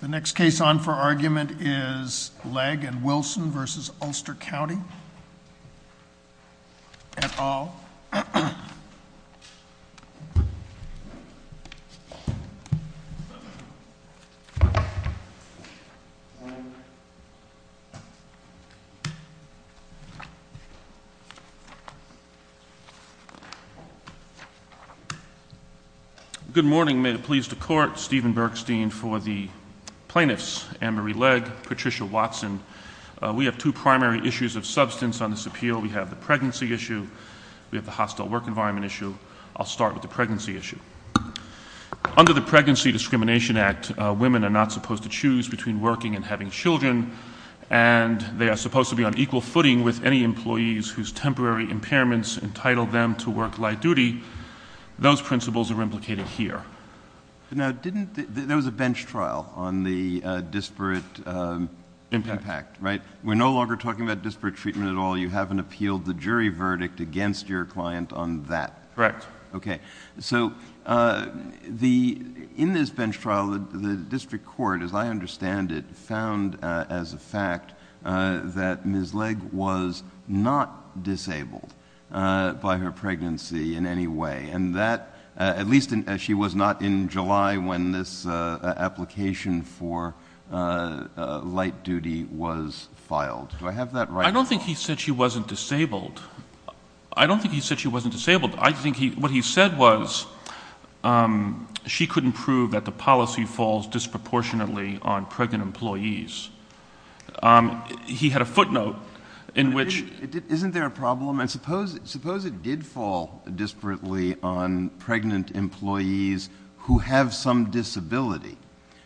The next case on for argument is Legg v. Wilson v. Ulster County, et al. Good morning, may it please the Court, Stephen Bergstein for the plaintiffs, Ann Marie Legg, Patricia Watson. We have two primary issues of substance on this appeal. We have the pregnancy issue, we have the hostile work environment issue. I'll start with the pregnancy issue. Under the Pregnancy Discrimination Act, women are not supposed to choose between working and having children, and they are supposed to be on equal footing with any employees whose temporary impairments entitled them to work light duty. Those principles are implicated here. Now, didn't — there was a bench trial on the disparate impact, right? We're no longer talking about disparate treatment at all. You haven't appealed the jury verdict against your client on that. Correct. Okay. So the — in this bench trial, the district court, as I understand it, found as a fact that Ms. Legg was not disabled by her pregnancy in any way, and that — at least she was not in July when this application for light duty was filed. Do I have that right at all? I don't think he said she wasn't disabled. I don't think he said she wasn't disabled. I think he — what he said was she couldn't prove that the policy falls disproportionately on pregnant employees. He had a footnote in which — Isn't there a problem? And suppose it did fall disparately on pregnant employees who have some disability?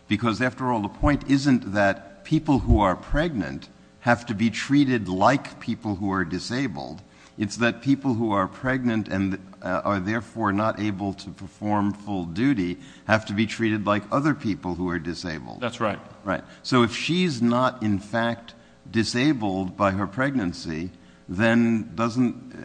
Because after all, the point isn't that people who are pregnant have to be treated like people who are disabled. It's that people who are pregnant and are therefore not able to perform full duty have to be treated like other people who are disabled. That's right. Right. So if she's not, in fact, disabled by her pregnancy, then doesn't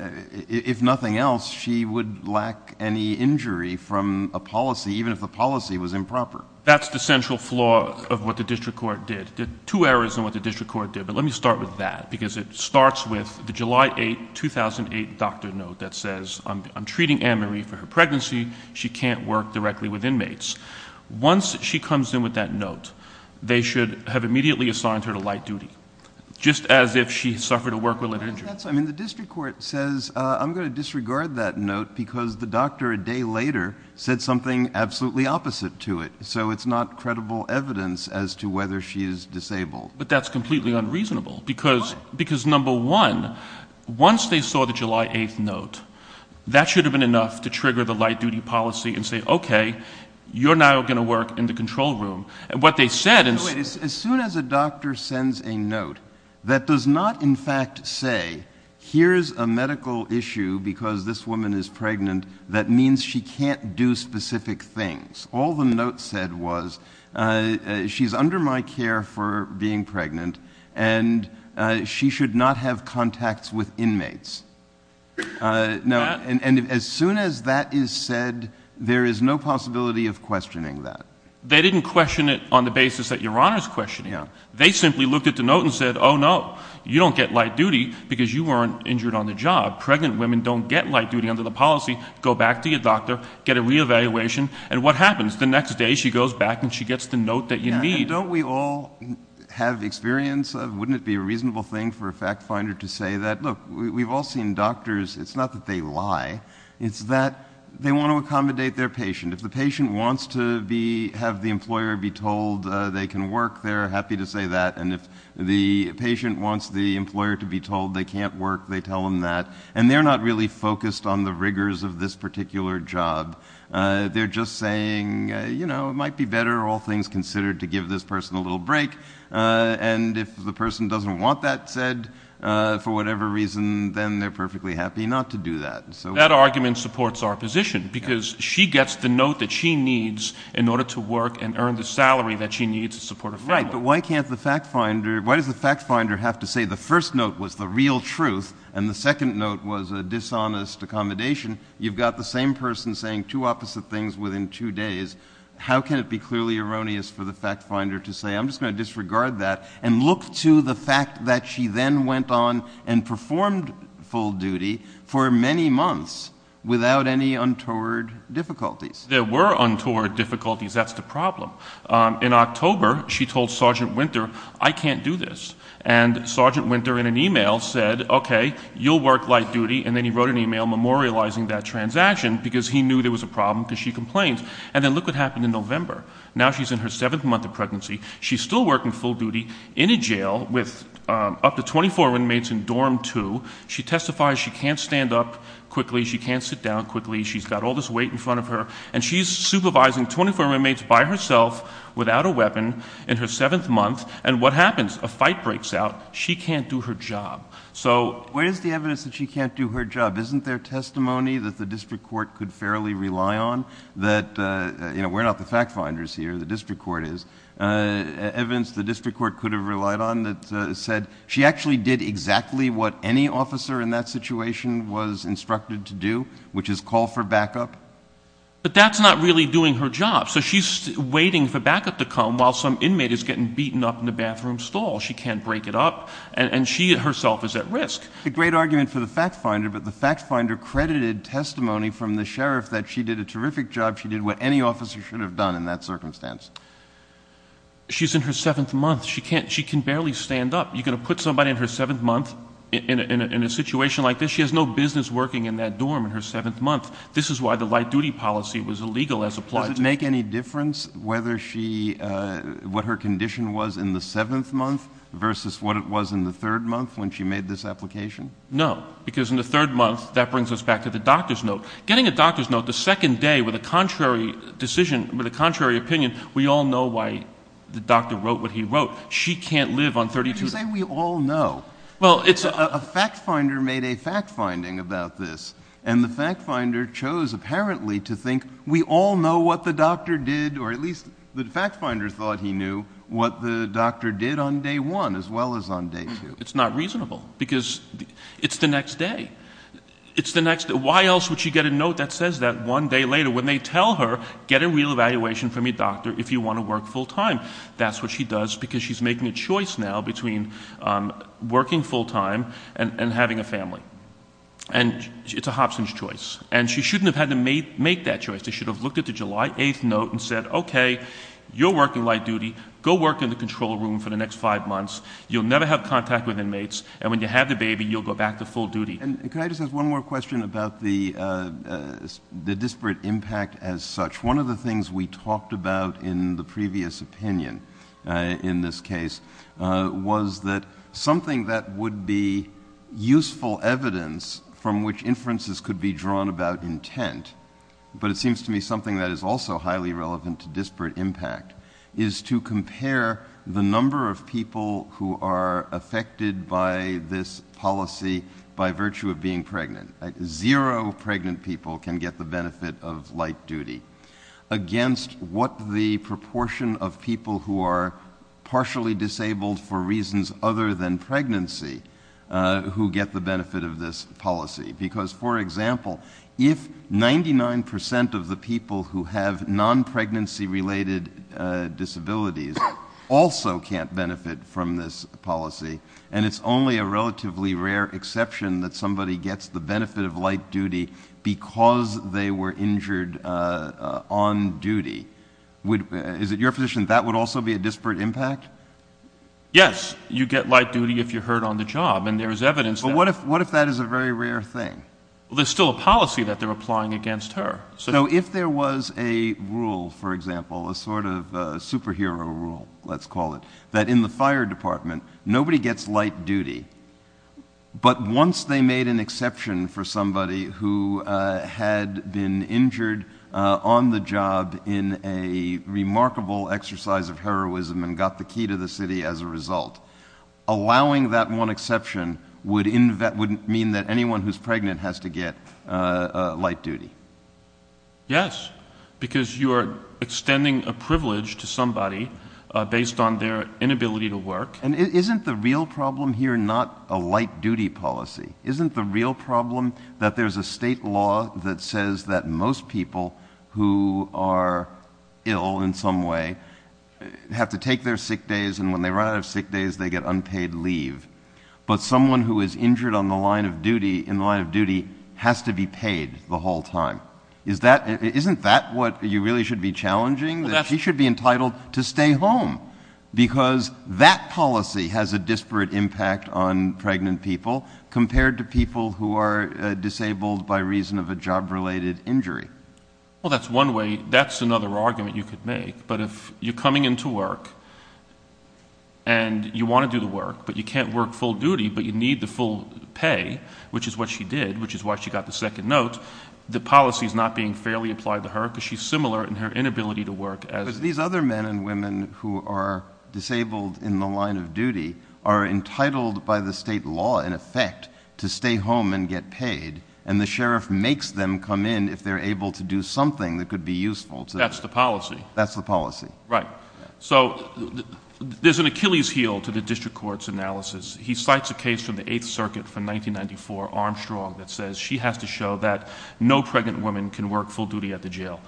— if nothing else, she would lack any injury from a policy, even if the policy was improper. That's the central flaw of what the district court did. There are two errors in what the district court did, but let me start with that, because it starts with the July 8, 2008 doctor note that says, I'm treating Ann Marie for her pregnancy. She can't work directly with inmates. Once she comes in with that note, they should have immediately assigned her to light duty, just as if she suffered a work-related injury. I mean, the district court says, I'm going to disregard that note because the doctor a day later said something absolutely opposite to it. So it's not credible evidence as to whether she is disabled. But that's completely unreasonable, because, number one, once they saw the July 8 note, that should have been enough to trigger the light duty policy and say, OK, you're now going to work in the control room. And what they said — Wait, as soon as a doctor sends a note that does not, in fact, say, here's a medical issue, because this woman is pregnant, that means she can't do specific things, all the note said was, she's under my care for being pregnant, and she should not have contacts with inmates. And as soon as that is said, there is no possibility of questioning that. They didn't question it on the basis that Your Honor's questioning it. They simply looked at the note and said, oh, no, you don't get light duty because you weren't injured on the job. Pregnant women don't get light duty under the policy. Go back to your doctor, get a reevaluation. And what happens? The next day she goes back and she gets the note that you need. And don't we all have experience of — wouldn't it be a reasonable thing for a fact finder to say that, look, we've all seen doctors — it's not that they lie, it's that they want to accommodate their patient. If the patient wants to be — have the employer be told they can work, they're happy to say that. And if the patient wants the employer to be told they can't work, they tell them that. And they're not really focused on the rigors of this particular job. They're just saying, you know, it might be better, all things considered, to give this person a little break. And if the person doesn't want that said for whatever reason, then they're perfectly happy not to do that. So — That argument supports our position, because she gets the note that she needs in order to work and earn the salary that she needs to support a family. Right. But why can't the fact finder — why does the fact finder have to say the first note was the real truth and the second note was a dishonest accommodation? You've got the same person saying two opposite things within two days. How can it be clearly erroneous for the fact finder to say, I'm just going to disregard that and look to the fact that she then went on and performed full duty for many months without any untoward difficulties? There were untoward difficulties. That's the problem. In October, she told Sergeant Winter, I can't do this. And Sergeant Winter, in an email, said, OK, you'll work light duty, and then he wrote an email memorializing that transaction, because he knew there was a problem because she complained. And then look what happened in November. Now she's in her seventh month of pregnancy. She's still working full duty in a jail with up to 24 roommates in dorm two. She testifies she can't stand up quickly. She can't sit down quickly. She's got all this weight in front of her. And she's supervising 24 roommates by herself without a weapon in her seventh month. And what happens? A fight breaks out. She can't do her job. So where is the evidence that she can't do her job? Isn't there testimony that the district court could fairly rely on that, you know, we're not the fact finders here, the district court is, evidence the district court could have relied on that said she actually did exactly what any officer in that situation was instructed to do, which is call for backup? But that's not really doing her job. So she's waiting for backup to come while some inmate is getting beaten up in the bathroom stall. She can't break it up. And she herself is at risk. The great argument for the fact finder, but the fact finder credited testimony from the sheriff that she did a terrific job. She did what any officer should have done in that circumstance. She's in her seventh month. She can't, she can barely stand up. You're going to put somebody in her seventh month in a situation like this. She has no business working in that dorm in her seventh month. This is why the light duty policy was illegal as applied to make any difference, whether she, uh, what her condition was in the seventh month versus what it was in the third month when she made this application. No, because in the third month that brings us back to the doctor's note, getting a doctor's note the second day with a contrary decision with a contrary opinion. We all know why the doctor wrote what he wrote. She can't live on 32. We all know, well, it's a fact finder made a fact finding about this and the fact finder chose apparently to think we all know what the doctor did, or at least the fact finder thought he knew what the doctor did on day one as well as on day two. It's not reasonable because it's the next day. It's the next day. Why else would she get a note that says that one day later when they tell her, get a real evaluation from your doctor if you want to work full time, that's what she does because she's making a choice now between, um, working full time and having a family and it's a Hobson's choice. And she shouldn't have had to make that choice. They should have looked at the July 8th note and said, okay, you're working light duty. Go work in the control room for the next five months. You'll never have contact with inmates and when you have the baby, you'll go back to full duty. And can I just ask one more question about the, uh, the disparate impact as such? One of the things we talked about in the previous opinion, uh, in this case, uh, was that something that would be useful evidence from which inferences could be drawn about intent, but it seems to me something that is also highly relevant to disparate impact is to compare the number of people who are affected by this policy by virtue of being pregnant. Zero pregnant people can get the benefit of light duty against what the proportion of people who are partially disabled for reasons other than pregnancy, uh, who get the benefit of this policy. Because for example, if 99% of the people who have non-pregnancy related, uh, disabilities also can't benefit from this policy and it's only a relatively rare exception that somebody gets the benefit of light duty because they were injured, uh, on duty. Would, uh, is it your position that that would also be a disparate impact? Yes. You get light duty if you're hurt on the job and there is evidence that. But what if, what if that is a very rare thing? Well, there's still a policy that they're applying against her. So if there was a rule, for example, a sort of a superhero rule, let's call it, that in the fire department, nobody gets light duty, but once they made an exception for somebody who, uh, had been injured, uh, on the job in a remarkable exercise of heroism and got the key to the city as a result, allowing that one exception would invent, wouldn't mean that anyone who's pregnant has to get a light duty. Yes, because you are extending a privilege to somebody, uh, based on their inability to work. And isn't the real problem here? Not a light duty policy. Isn't the real problem that there's a state law that says that most people who are ill in some way have to take their sick days. And when they run out of sick days, they get unpaid leave. But someone who is injured on the line of duty in the line of duty has to be paid the whole time. Is that, isn't that what you really should be challenging that she should be entitled to stay home because that policy has a disparate impact on pregnant people compared to people who are disabled by reason of a job related injury? Well that's one way, that's another argument you could make. But if you're coming into work and you want to do the work, but you can't work full duty, but you need the full pay, which is what she did, which is why she got the second note, the policy is not being fairly applied to her because she's similar in her inability to work. But these other men and women who are disabled in the line of duty are entitled by the state law in effect to stay home and get paid. And the sheriff makes them come in if they're able to do something that could be useful. That's the policy. That's the policy. Right. So there's an Achilles heel to the district court's analysis. He cites a case from the eighth circuit from 1994 Armstrong that says she has to show that no pregnant woman can work full duty at the jail.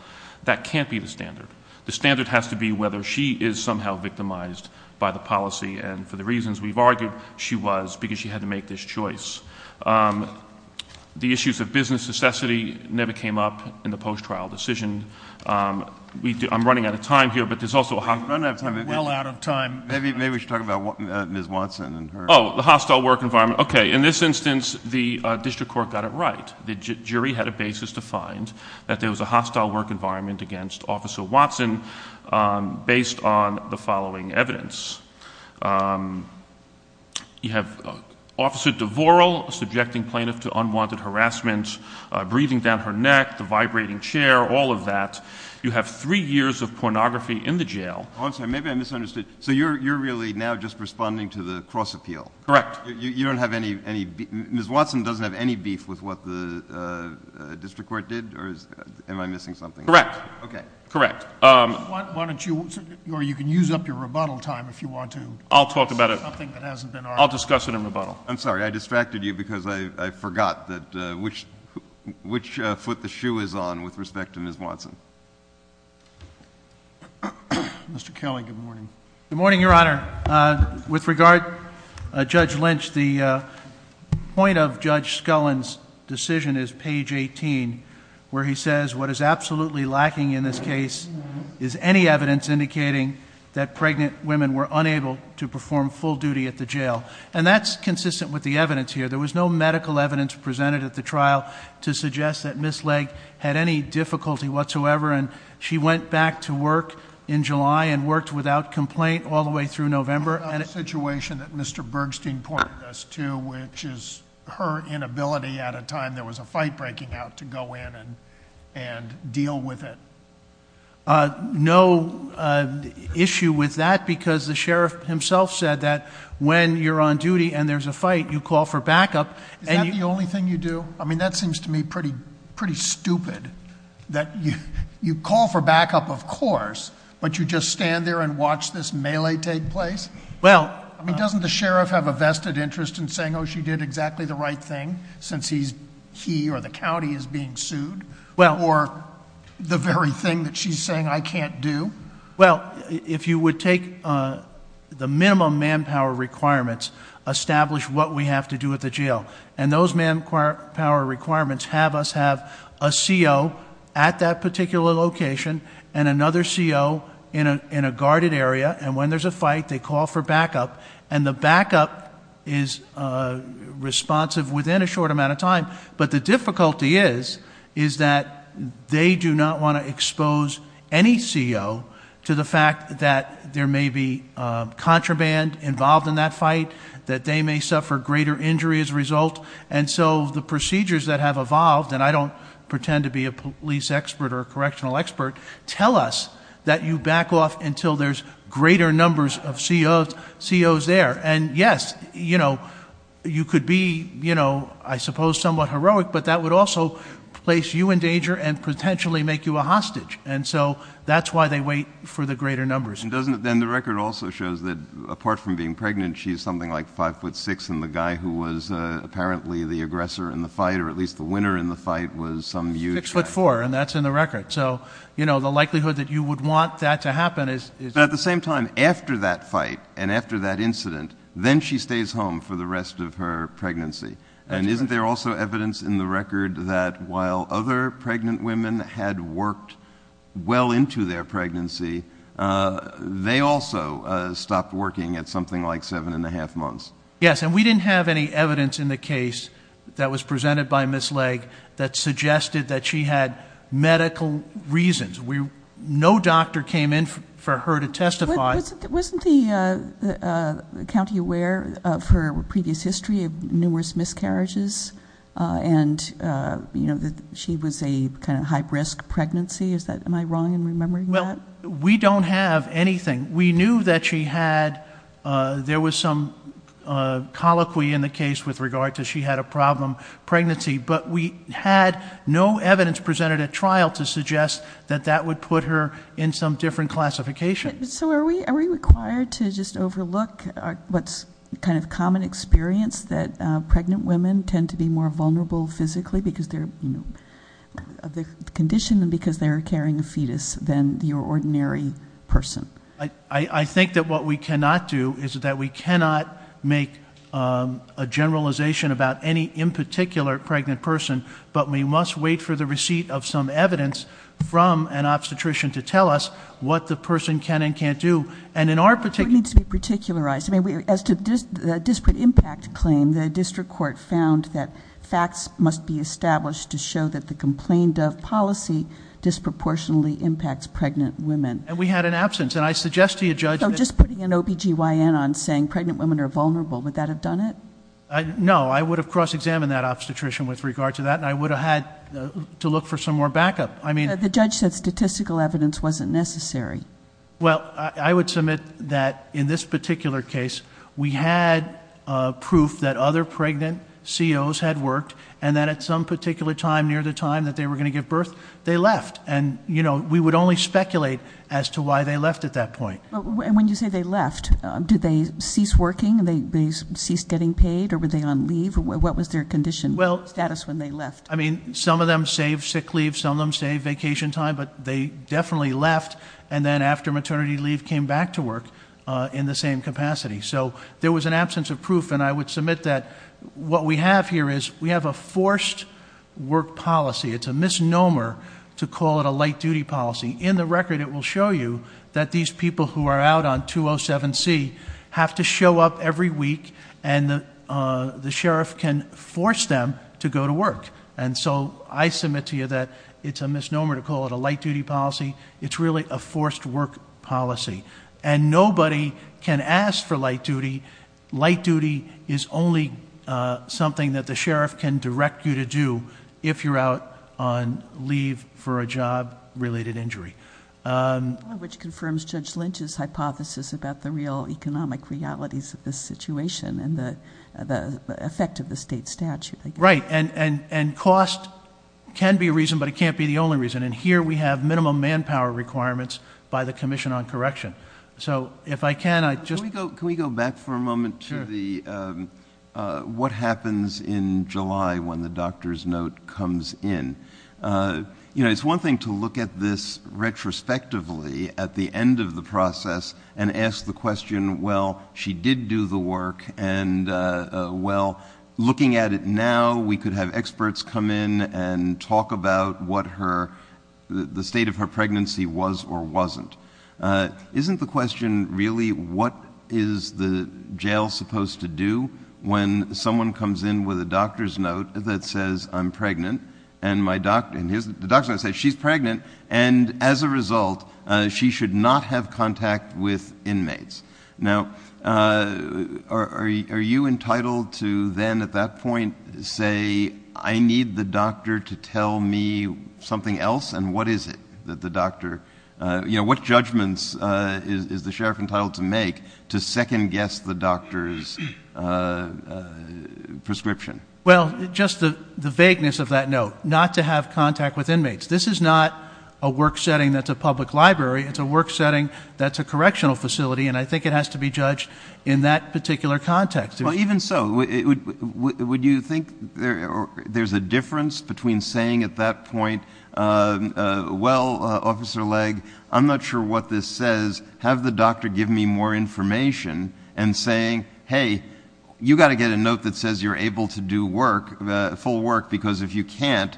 That can't be the standard. The standard has to be whether she is somehow victimized by the policy. And for the reasons we've argued, she was because she had to make this choice. The issues of business necessity never came up in the post-trial decision. I'm running out of time here, but there's also... We're running out of time. We're well out of time. Maybe we should talk about Ms. Watson and her... Oh, the hostile work environment. Okay. In this instance, the district court got it right. The jury had a basis to find that there was a hostile work environment against Officer Watson based on the following evidence. You have Officer DeVorel subjecting plaintiff to unwanted harassment, breathing down her neck, the vibrating chair, all of that. You have three years of pornography in the jail. Oh, I'm sorry. Maybe I misunderstood. So you're really now just responding to the cross-appeal? Correct. You don't have any... Ms. Watson doesn't have any beef with what the district court did? Or am I missing something? Correct. Okay. Correct. Why don't you... or you can use up your rebuttal time if you want to... I'll talk about it.... something that hasn't been argued. I'll discuss it in rebuttal. I'm sorry. I distracted you because I forgot which foot the shoe is on with respect to Ms. Watson. Mr. Kelly, good morning. Good morning, Your Honor. With regard to Judge Lynch, the point of Judge Scullin's decision is page 18, where he says, what is absolutely lacking in this case is any evidence indicating that pregnant women were unable to perform full duty at the jail. That's consistent with the evidence here. There was no medical evidence presented at the trial to suggest that Ms. Legg had any difficulty whatsoever. She went back to work in July and worked without complaint all the way through November. What about the situation that Mr. Bergstein pointed us to, which is her inability at a time there was a fight breaking out to go in and deal with it? No issue with that because the sheriff himself said that when you're on duty and there's a fight, you call for backup. Is that the only thing you do? That seems to me pretty stupid, that you call for backup, of course, but you just stand there and watch this melee take place? Doesn't the sheriff have a vested interest in saying, oh, she did exactly the right thing since he or the county is being sued, or the very thing that she's saying I can't do? If you would take the minimum manpower requirements, establish what we have to do at the minimum manpower requirements, have us have a CO at that particular location and another CO in a guarded area. And when there's a fight, they call for backup. And the backup is responsive within a short amount of time. But the difficulty is, is that they do not want to expose any CO to the fact that there may be contraband involved in that fight, that they may suffer greater injury as a result. And so the procedures that have evolved, and I don't pretend to be a police expert or a correctional expert, tell us that you back off until there's greater numbers of COs there. And yes, you could be, I suppose, somewhat heroic, but that would also place you in danger and potentially make you a hostage. And so that's why they wait for the greater numbers. Then the record also shows that apart from being pregnant, she's something like 5'6", and the guy who was apparently the aggressor in the fight, or at least the winner in the fight, was some huge... 6'4", and that's in the record. So, you know, the likelihood that you would want that to happen is... But at the same time, after that fight and after that incident, then she stays home for the rest of her pregnancy. And isn't there also evidence in the record that while other pregnant women had worked well into their pregnancy, they also stopped working at something like 7 1⁄2 months? Yes, and we didn't have any evidence in the case that was presented by Ms. Legge that suggested that she had medical reasons. No doctor came in for her to testify. Wasn't the county aware of her previous history of numerous miscarriages and, you know, that she was a kind of high-risk pregnancy? Am I wrong in remembering that? Well, we don't have anything. We knew that she had... There was some colloquy in the case with regard to she had a problem pregnancy, but we had no evidence presented at trial to suggest that that would put her in some different classification. So are we required to just overlook what's kind of common experience that pregnant women tend to be more vulnerable physically because they're, you know, of the condition and because they're carrying a fetus than the ordinary person? I think that what we cannot do is that we cannot make a generalization about any in particular pregnant person, but we must wait for the receipt of some evidence from an obstetrician to tell us what the person can and can't do. And in our particular... It needs to be particularized. I mean, as to the disparate impact claim, the district court found that facts must be established to show that the complained of policy disproportionately impacts pregnant women. And we had an absence. And I suggest to you, Judge... So just putting an OBGYN on saying pregnant women are vulnerable, would that have done it? No. I would have cross-examined that obstetrician with regard to that, and I would have had to look for some more backup. I mean... The judge said statistical evidence wasn't necessary. Well, I would submit that in this particular case, we had proof that other pregnant COs had worked and that at some particular time near the time that they were going to give birth, they left. And we would only speculate as to why they left at that point. And when you say they left, did they cease working? Did they cease getting paid? Or were they on leave? What was their condition status when they left? I mean, some of them saved sick leave. Some of them saved vacation time. But they definitely left. And then after maternity leave, came back to work in the same capacity. So there was an absence of proof. And I would submit that what we have here is we have a forced work policy. It's a misnomer to call it a light duty policy. In the record, it will show you that these people who are out on 207C have to show up every week and the sheriff can force them to go to work. And so I submit to you that it's a misnomer to call it a light duty policy. It's really a forced work policy. And nobody can ask for light duty. Light duty is only something that the sheriff can direct you to do if you're out on leave for a job-related injury. Which confirms Judge Lynch's hypothesis about the real economic realities of this situation and the effect of the state statute. Right. And cost can be a reason, but it can't be the only reason. And here we have minimum manpower requirements by the Commission on Correction. So if I can, I just— Can we go back for a moment to what happens in July when the doctor's note comes in? You know, it's one thing to look at this retrospectively at the end of the process and ask the question, well, she did do the work, and well, looking at it now, we could have experts come in and talk about what the state of her pregnancy was or wasn't. Isn't the question really, what is the jail supposed to do when someone comes in with a doctor's note that says, I'm pregnant, and the doctor's note says, she's pregnant, and as a result, she should not have contact with inmates? Now, are you entitled to then at that point say, I need the doctor to tell me something else, and what is it that the doctor—you know, what judgments is the sheriff entitled to make to second-guess the doctor's prescription? Well, just the vagueness of that note, not to have contact with inmates. This is not a work setting that's a public library. It's a work setting that's a correctional facility, and I think it has to be judged in that particular context. Well, even so, would you think there's a difference between saying at that point, well, Officer Legg, I'm not sure what this says, have the doctor give me more information, and saying, hey, you've got to get a note that says you're able to do work, full work, because if you can't,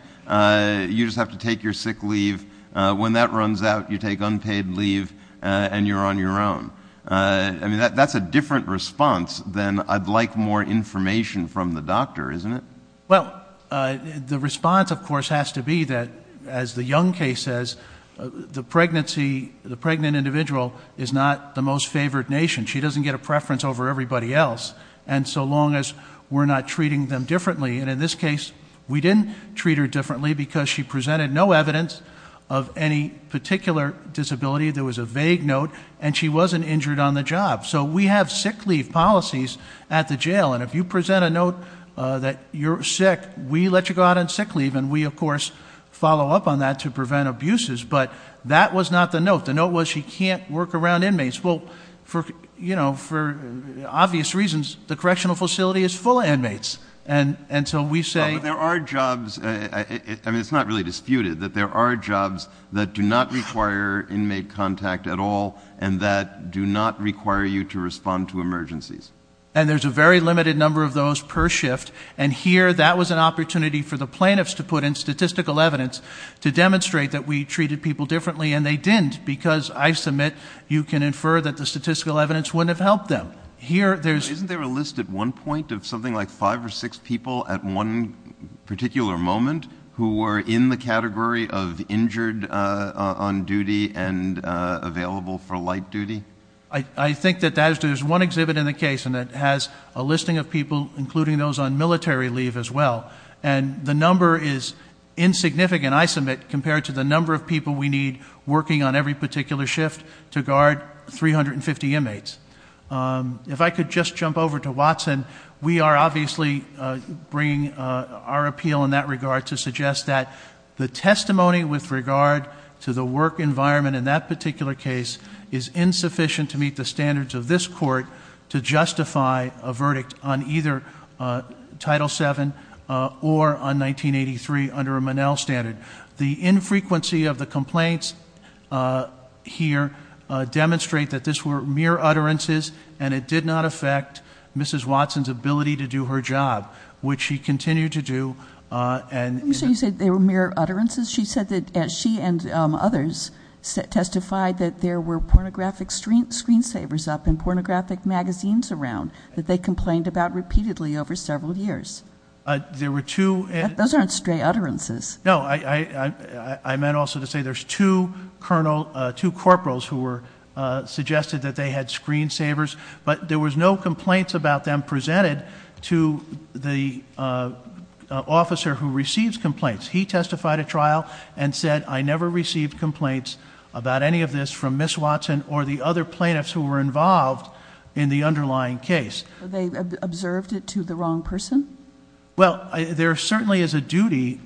you just have to take your sick leave. When that runs out, you take unpaid leave, and you're on your own. I mean, that's a different response than I'd like more information from the doctor, isn't it? Well, the response, of course, has to be that, as the Young case says, the pregnant individual is not the most favored nation. She doesn't get a preference over everybody else, and so long as we're not treating them differently, and in this case, we didn't treat her differently because she presented no evidence of any particular disability. There was a vague note, and she wasn't injured on the job. So we have sick leave policies at the jail, and if you present a note that you're sick, we let you go out on sick leave, and we, of course, follow up on that to prevent abuses, but that was not the note. The note was she can't work around inmates. Well, for obvious reasons, the correctional facility is full of inmates, and so we say- But there are jobs. I mean, it's not really disputed that there are jobs that do not require inmate contact at all and that do not require you to respond to emergencies. And there's a very limited number of those per shift, and here, that was an opportunity for the plaintiffs to put in statistical evidence to demonstrate that we treated people differently, and they didn't because, I submit, you can infer that the statistical evidence wouldn't have helped them. Here, there's- There's one point of something like five or six people at one particular moment who were in the category of injured on duty and available for light duty? I think that there's one exhibit in the case, and it has a listing of people, including those on military leave as well, and the number is insignificant, I submit, compared to the number of people we need working on every particular shift to guard 350 inmates. If I could just jump over to Watson, we are obviously bringing our appeal in that regard to suggest that the testimony with regard to the work environment in that particular case is insufficient to meet the standards of this court to justify a verdict on either Title VII or on 1983 under a Monell standard. The infrequency of the complaints here demonstrate that this were mere utterances, and it did not affect Mrs. Watson's ability to do her job, which she continued to do, and- Are you sure you said they were mere utterances? She said that she and others testified that there were pornographic screensavers up and pornographic magazines around that they complained about repeatedly over several years. There were two- Those aren't stray utterances. No, I meant also to say there's two corporals who were suggested that they had screensavers, but there was no complaints about them presented to the officer who receives complaints. He testified at trial and said, I never received complaints about any of this from Mrs. Watson or the other plaintiffs who were involved in the underlying case. They observed it to the wrong person? Well, there certainly is a duty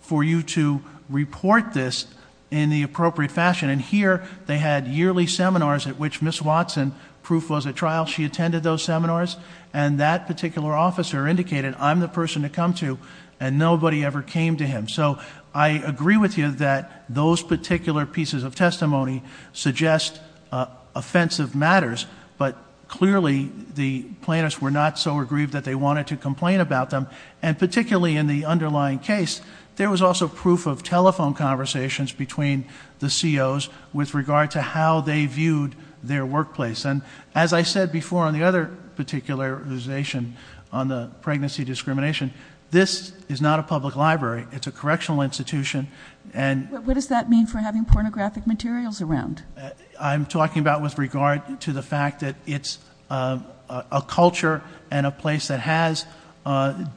for you to report this in the appropriate fashion, and here they had yearly seminars at which Mrs. Watson, proof was at trial, she attended those seminars, and that particular officer indicated, I'm the person to come to, and nobody ever came to him. So I agree with you that those particular pieces of testimony suggest offensive matters, but clearly the plaintiffs were not so aggrieved that they wanted to complain about them, and particularly in the underlying case, there was also proof of telephone conversations between the COs with regard to how they viewed their workplace. And as I said before on the other particularization on the pregnancy discrimination, this is not a public library. It's a correctional institution, and- What does that mean for having pornographic materials around? I'm talking about with regard to the fact that it's a culture and a place that has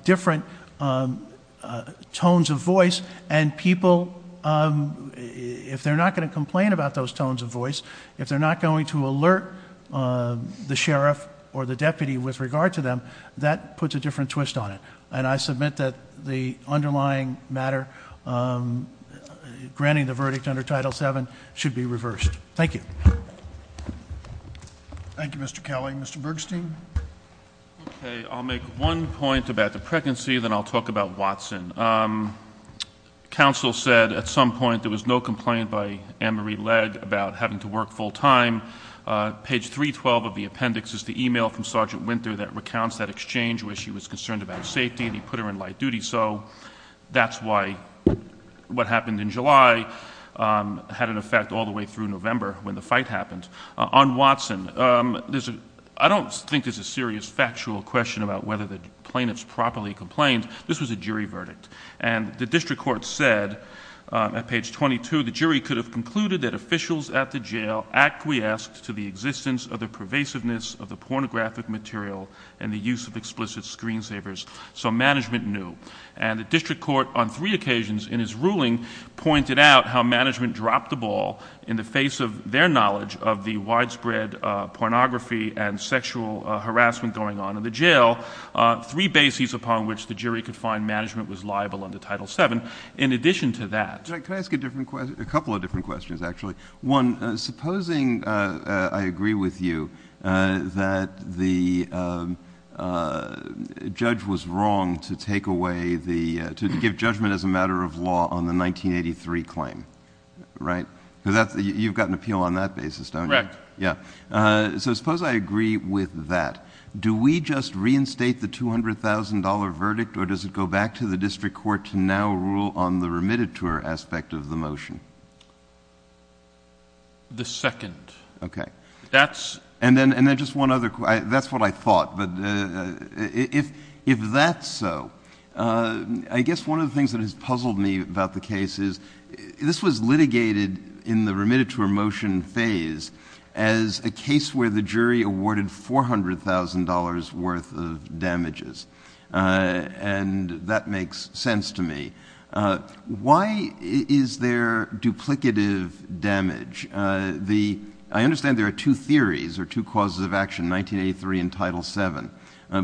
different tones of voice, and people, if they're not going to complain about those tones of voice, if they're not going to alert the sheriff or the deputy with regard to them, that puts a different twist on it. And I submit that the underlying matter, granting the verdict under Title VII, should be reversed. Thank you. Thank you, Mr. Kelly. Mr. Bergstein? Okay, I'll make one point about the pregnancy, then I'll talk about Watson. Counsel said at some point there was no complaint by Anne-Marie Legge about having to work full-time. Page 312 of the appendix is the email from Sergeant Winter that recounts that exchange, where she was concerned about safety, and he put her in light duty. So that's why what happened in July had an effect all the way through November when the fight happened. On Watson, I don't think there's a serious factual question about whether the plaintiffs properly complained. This was a jury verdict. And the district court said at page 22, the jury could have concluded that officials at the jail acquiesced to the existence of the pervasiveness of the pornographic material and the use of explicit screensavers. So management knew. And the district court on three occasions in his ruling pointed out how management dropped the ball in the face of their knowledge of the widespread pornography and sexual harassment going on in the jail, three bases upon which the jury could find management was liable under Title VII. In addition to that— Can I ask a couple of different questions, actually? One, supposing I agree with you that the judge was wrong to take away the— to give judgment as a matter of law on the 1983 claim, right? Because you've got an appeal on that basis, don't you? Correct. Yeah. So suppose I agree with that. Do we just reinstate the $200,000 verdict, or does it go back to the district court to now rule on the remittiture aspect of the motion? The second. Okay. That's— And then just one other— That's what I thought. But if that's so, I guess one of the things that has puzzled me about the case is this was litigated in the remittiture motion phase as a case where the jury awarded $400,000 worth of damages. And that makes sense to me. Why is there duplicative damage? I understand there are two theories, or two causes of action—1983 and Title VII—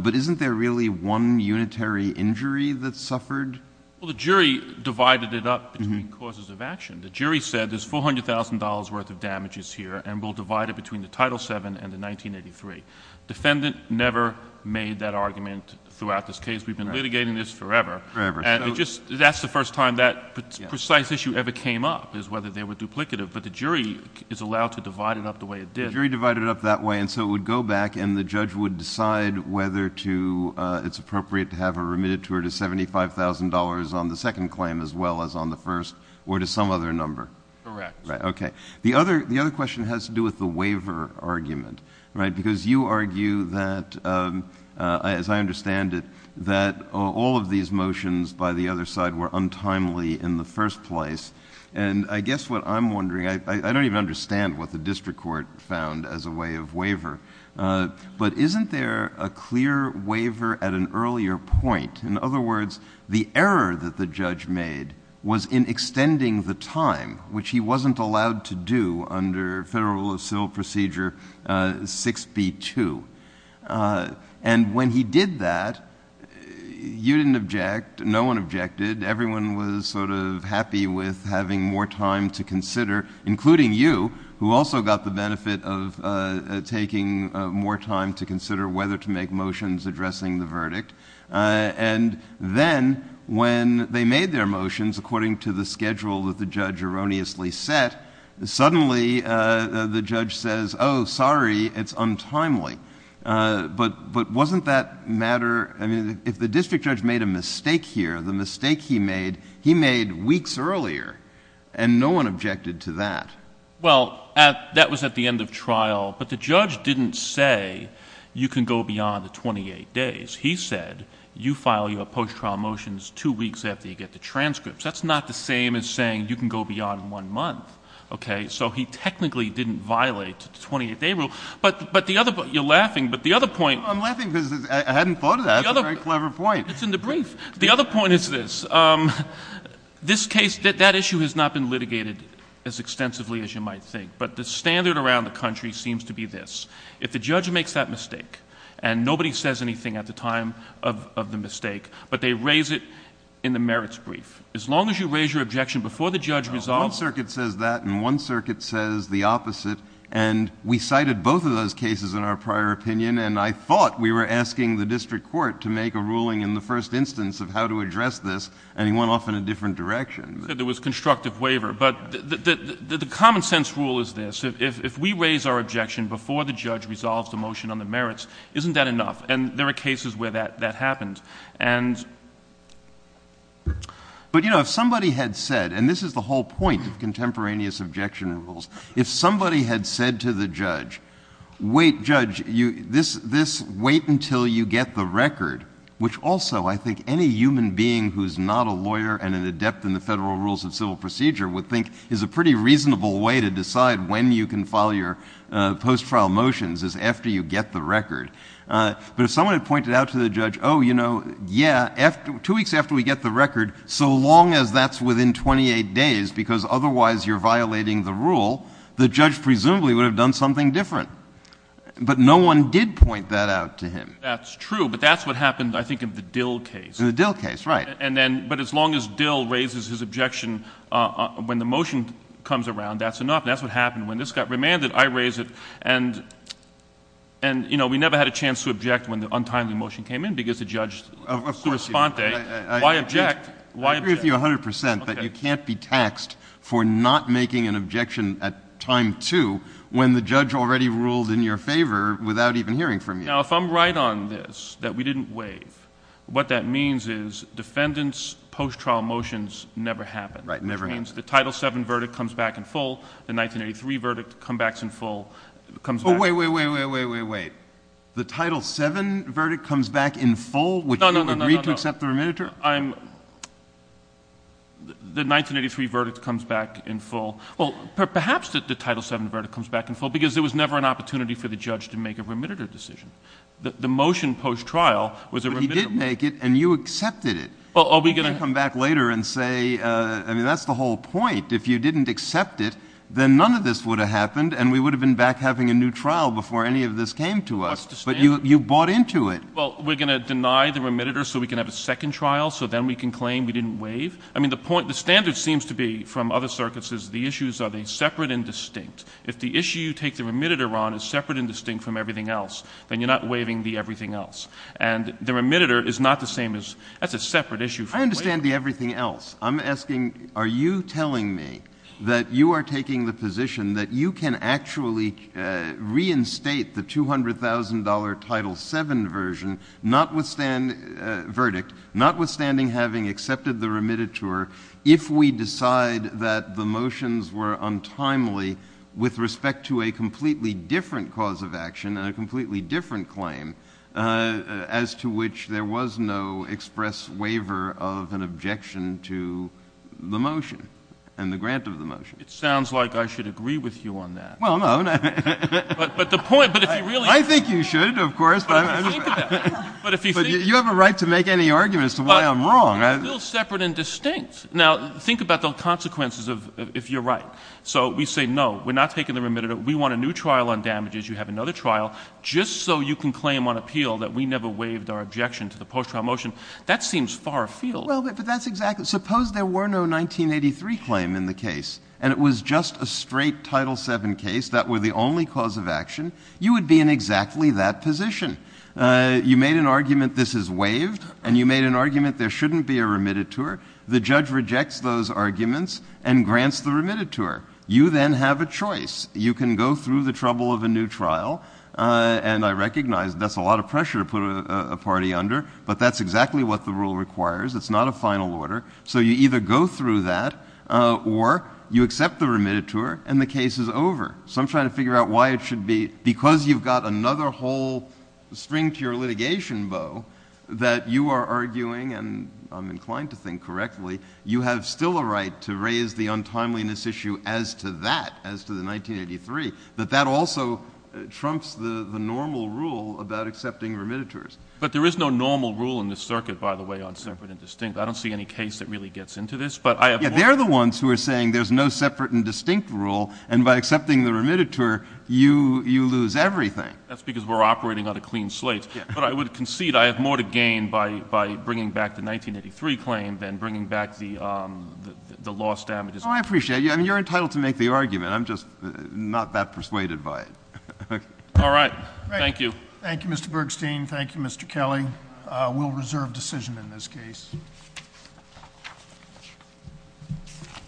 but isn't there really one unitary injury that suffered? Well, the jury divided it up between causes of action. The jury said there's $400,000 worth of damages here and we'll divide it between the Title VII and the 1983. Defendant never made that argument throughout this case. We've been litigating this forever. Forever. That's the first time that precise issue ever came up, is whether they were duplicative. But the jury is allowed to divide it up the way it did. The jury divided it up that way, and so it would go back and the judge would decide whether it's appropriate to have a remittiture to $75,000 on the second claim as well as on the first, or to some other number. Correct. Okay. The other question has to do with the waiver argument, right? Because you argue that, as I understand it, that all of these motions by the other side were untimely in the first place. And I guess what I'm wondering— I don't even understand what the district court found as a way of waiver— but isn't there a clear waiver at an earlier point? In other words, the error that the judge made was in extending the time, which he wasn't allowed to do under Federal Civil Procedure 6B-2. And when he did that, you didn't object. No one objected. Everyone was sort of happy with having more time to consider, including you, who also got the benefit of taking more time to consider whether to make motions addressing the verdict. And then when they made their motions, according to the schedule that the judge erroneously set, suddenly the judge says, oh, sorry, it's untimely. But wasn't that matter— I mean, if the district judge made a mistake here, the mistake he made, he made weeks earlier, and no one objected to that. Well, that was at the end of trial. But the judge didn't say, you can go beyond the 28 days. He said, you file your post-trial motions two weeks after you get the transcripts. That's not the same as saying you can go beyond one month. Okay? So he technically didn't violate the 28-day rule. But the other—you're laughing, but the other point— I'm laughing because I hadn't thought of that. That's a very clever point. It's in the brief. The other point is this. This case—that issue has not been litigated as extensively as you might think. But the standard around the country seems to be this. If the judge makes that mistake, and nobody says anything at the time of the mistake, but they raise it in the merits brief, as long as you raise your objection before the judge resolves— One circuit says that, and one circuit says the opposite. And we cited both of those cases in our prior opinion, and I thought we were asking the district court to make a ruling in the first instance of how to address this, and he went off in a different direction. There was constructive waiver. But the common-sense rule is this. If we raise our objection before the judge resolves the motion on the merits, isn't that enough? And there are cases where that happens. But, you know, if somebody had said—and this is the whole point of contemporaneous objection rules— if somebody had said to the judge, wait, judge, wait until you get the record, which also I think any human being who's not a lawyer and an adept in the federal rules of civil procedure would think is a pretty reasonable way to decide when you can file your post-trial motions is after you get the record. But if someone had pointed out to the judge, oh, you know, yeah, two weeks after we get the record, so long as that's within 28 days, because otherwise you're violating the rule, the judge presumably would have done something different. But no one did point that out to him. That's true, but that's what happened, I think, in the Dill case. In the Dill case, right. But as long as Dill raises his objection when the motion comes around, that's enough. That's what happened. When this got remanded, I raised it. And, you know, we never had a chance to object when the untimely motion came in because the judge— Of course you did. Why object? I agree with you 100% that you can't be taxed for not making an objection at time two when the judge already ruled in your favor without even hearing from you. Now, if I'm right on this, that we didn't waive, what that means is defendants' post-trial motions never happen. Right, never happen. Which means the Title VII verdict comes back in full. The 1983 verdict comes back in full. Oh, wait, wait, wait, wait, wait, wait, wait. The Title VII verdict comes back in full? No, no, no, no, no. Which you agreed to accept the remitter? I'm—the 1983 verdict comes back in full. Well, perhaps the Title VII verdict comes back in full because there was never an opportunity for the judge to make a remitter decision. The motion post-trial was a remitter decision. But you did make it, and you accepted it. Well, are we going to— You should come back later and say—I mean, that's the whole point. If you didn't accept it, then none of this would have happened, and we would have been back having a new trial before any of this came to us. But you bought into it. Well, we're going to deny the remitter so we can have a second trial, so then we can claim we didn't waive? I mean, the point—the standard seems to be, from other circuits, is the issues are they separate and distinct. If the issue you take the remitter on is separate and distinct from everything else, then you're not waiving the everything else. And the remitter is not the same as—that's a separate issue. I understand the everything else. I'm asking, are you telling me that you are taking the position that you can actually reinstate the $200,000 Title VII verdict, notwithstanding having accepted the remitter, if we decide that the motions were untimely with respect to a completely different cause of action and a completely different claim, as to which there was no express waiver of an objection to the motion and the grant of the motion? It sounds like I should agree with you on that. Well, no. But the point—but if you really— I think you should, of course. But if you think— But you have a right to make any argument as to why I'm wrong. But they're still separate and distinct. Now, think about the consequences if you're right. So we say, no, we're not taking the remitter. We want a new trial on damages. You have another trial. Just so you can claim on appeal that we never waived our objection to the post-trial motion. That seems far afield. Well, but that's exactly— Suppose there were no 1983 claim in the case and it was just a straight Title VII case, that were the only cause of action. You would be in exactly that position. You made an argument this is waived and you made an argument there shouldn't be a remitter. The judge rejects those arguments and grants the remitter. You then have a choice. You can go through the trouble of a new trial and I recognize that's a lot of pressure to put a party under but that's exactly what the rule requires. It's not a final order. So you either go through that or you accept the remitter and the case is over. So I'm trying to figure out why it should be— Because you've got another whole that you are arguing and I'm inclined to think correctly you have still a right to raise the untimeliness issue as to that as to the 1983 but that also trumps the normal rule about accepting remitters. But there is no normal rule in this circuit by the way on separate and distinct. I don't see any case that really gets into this Yeah, they're the ones who are saying there's no separate and distinct rule and by accepting the remitter you lose everything. That's because we're operating on a clean slate but I would concede I have more to gain by bringing back the 1983 claim than bringing back the lost damages. Oh, I appreciate you. You're entitled to make the argument. I'm just not that persuaded by it. All right. Thank you. Thank you, Mr. Bergstein. Thank you, Mr. Kelly. We'll reserve decision in this case.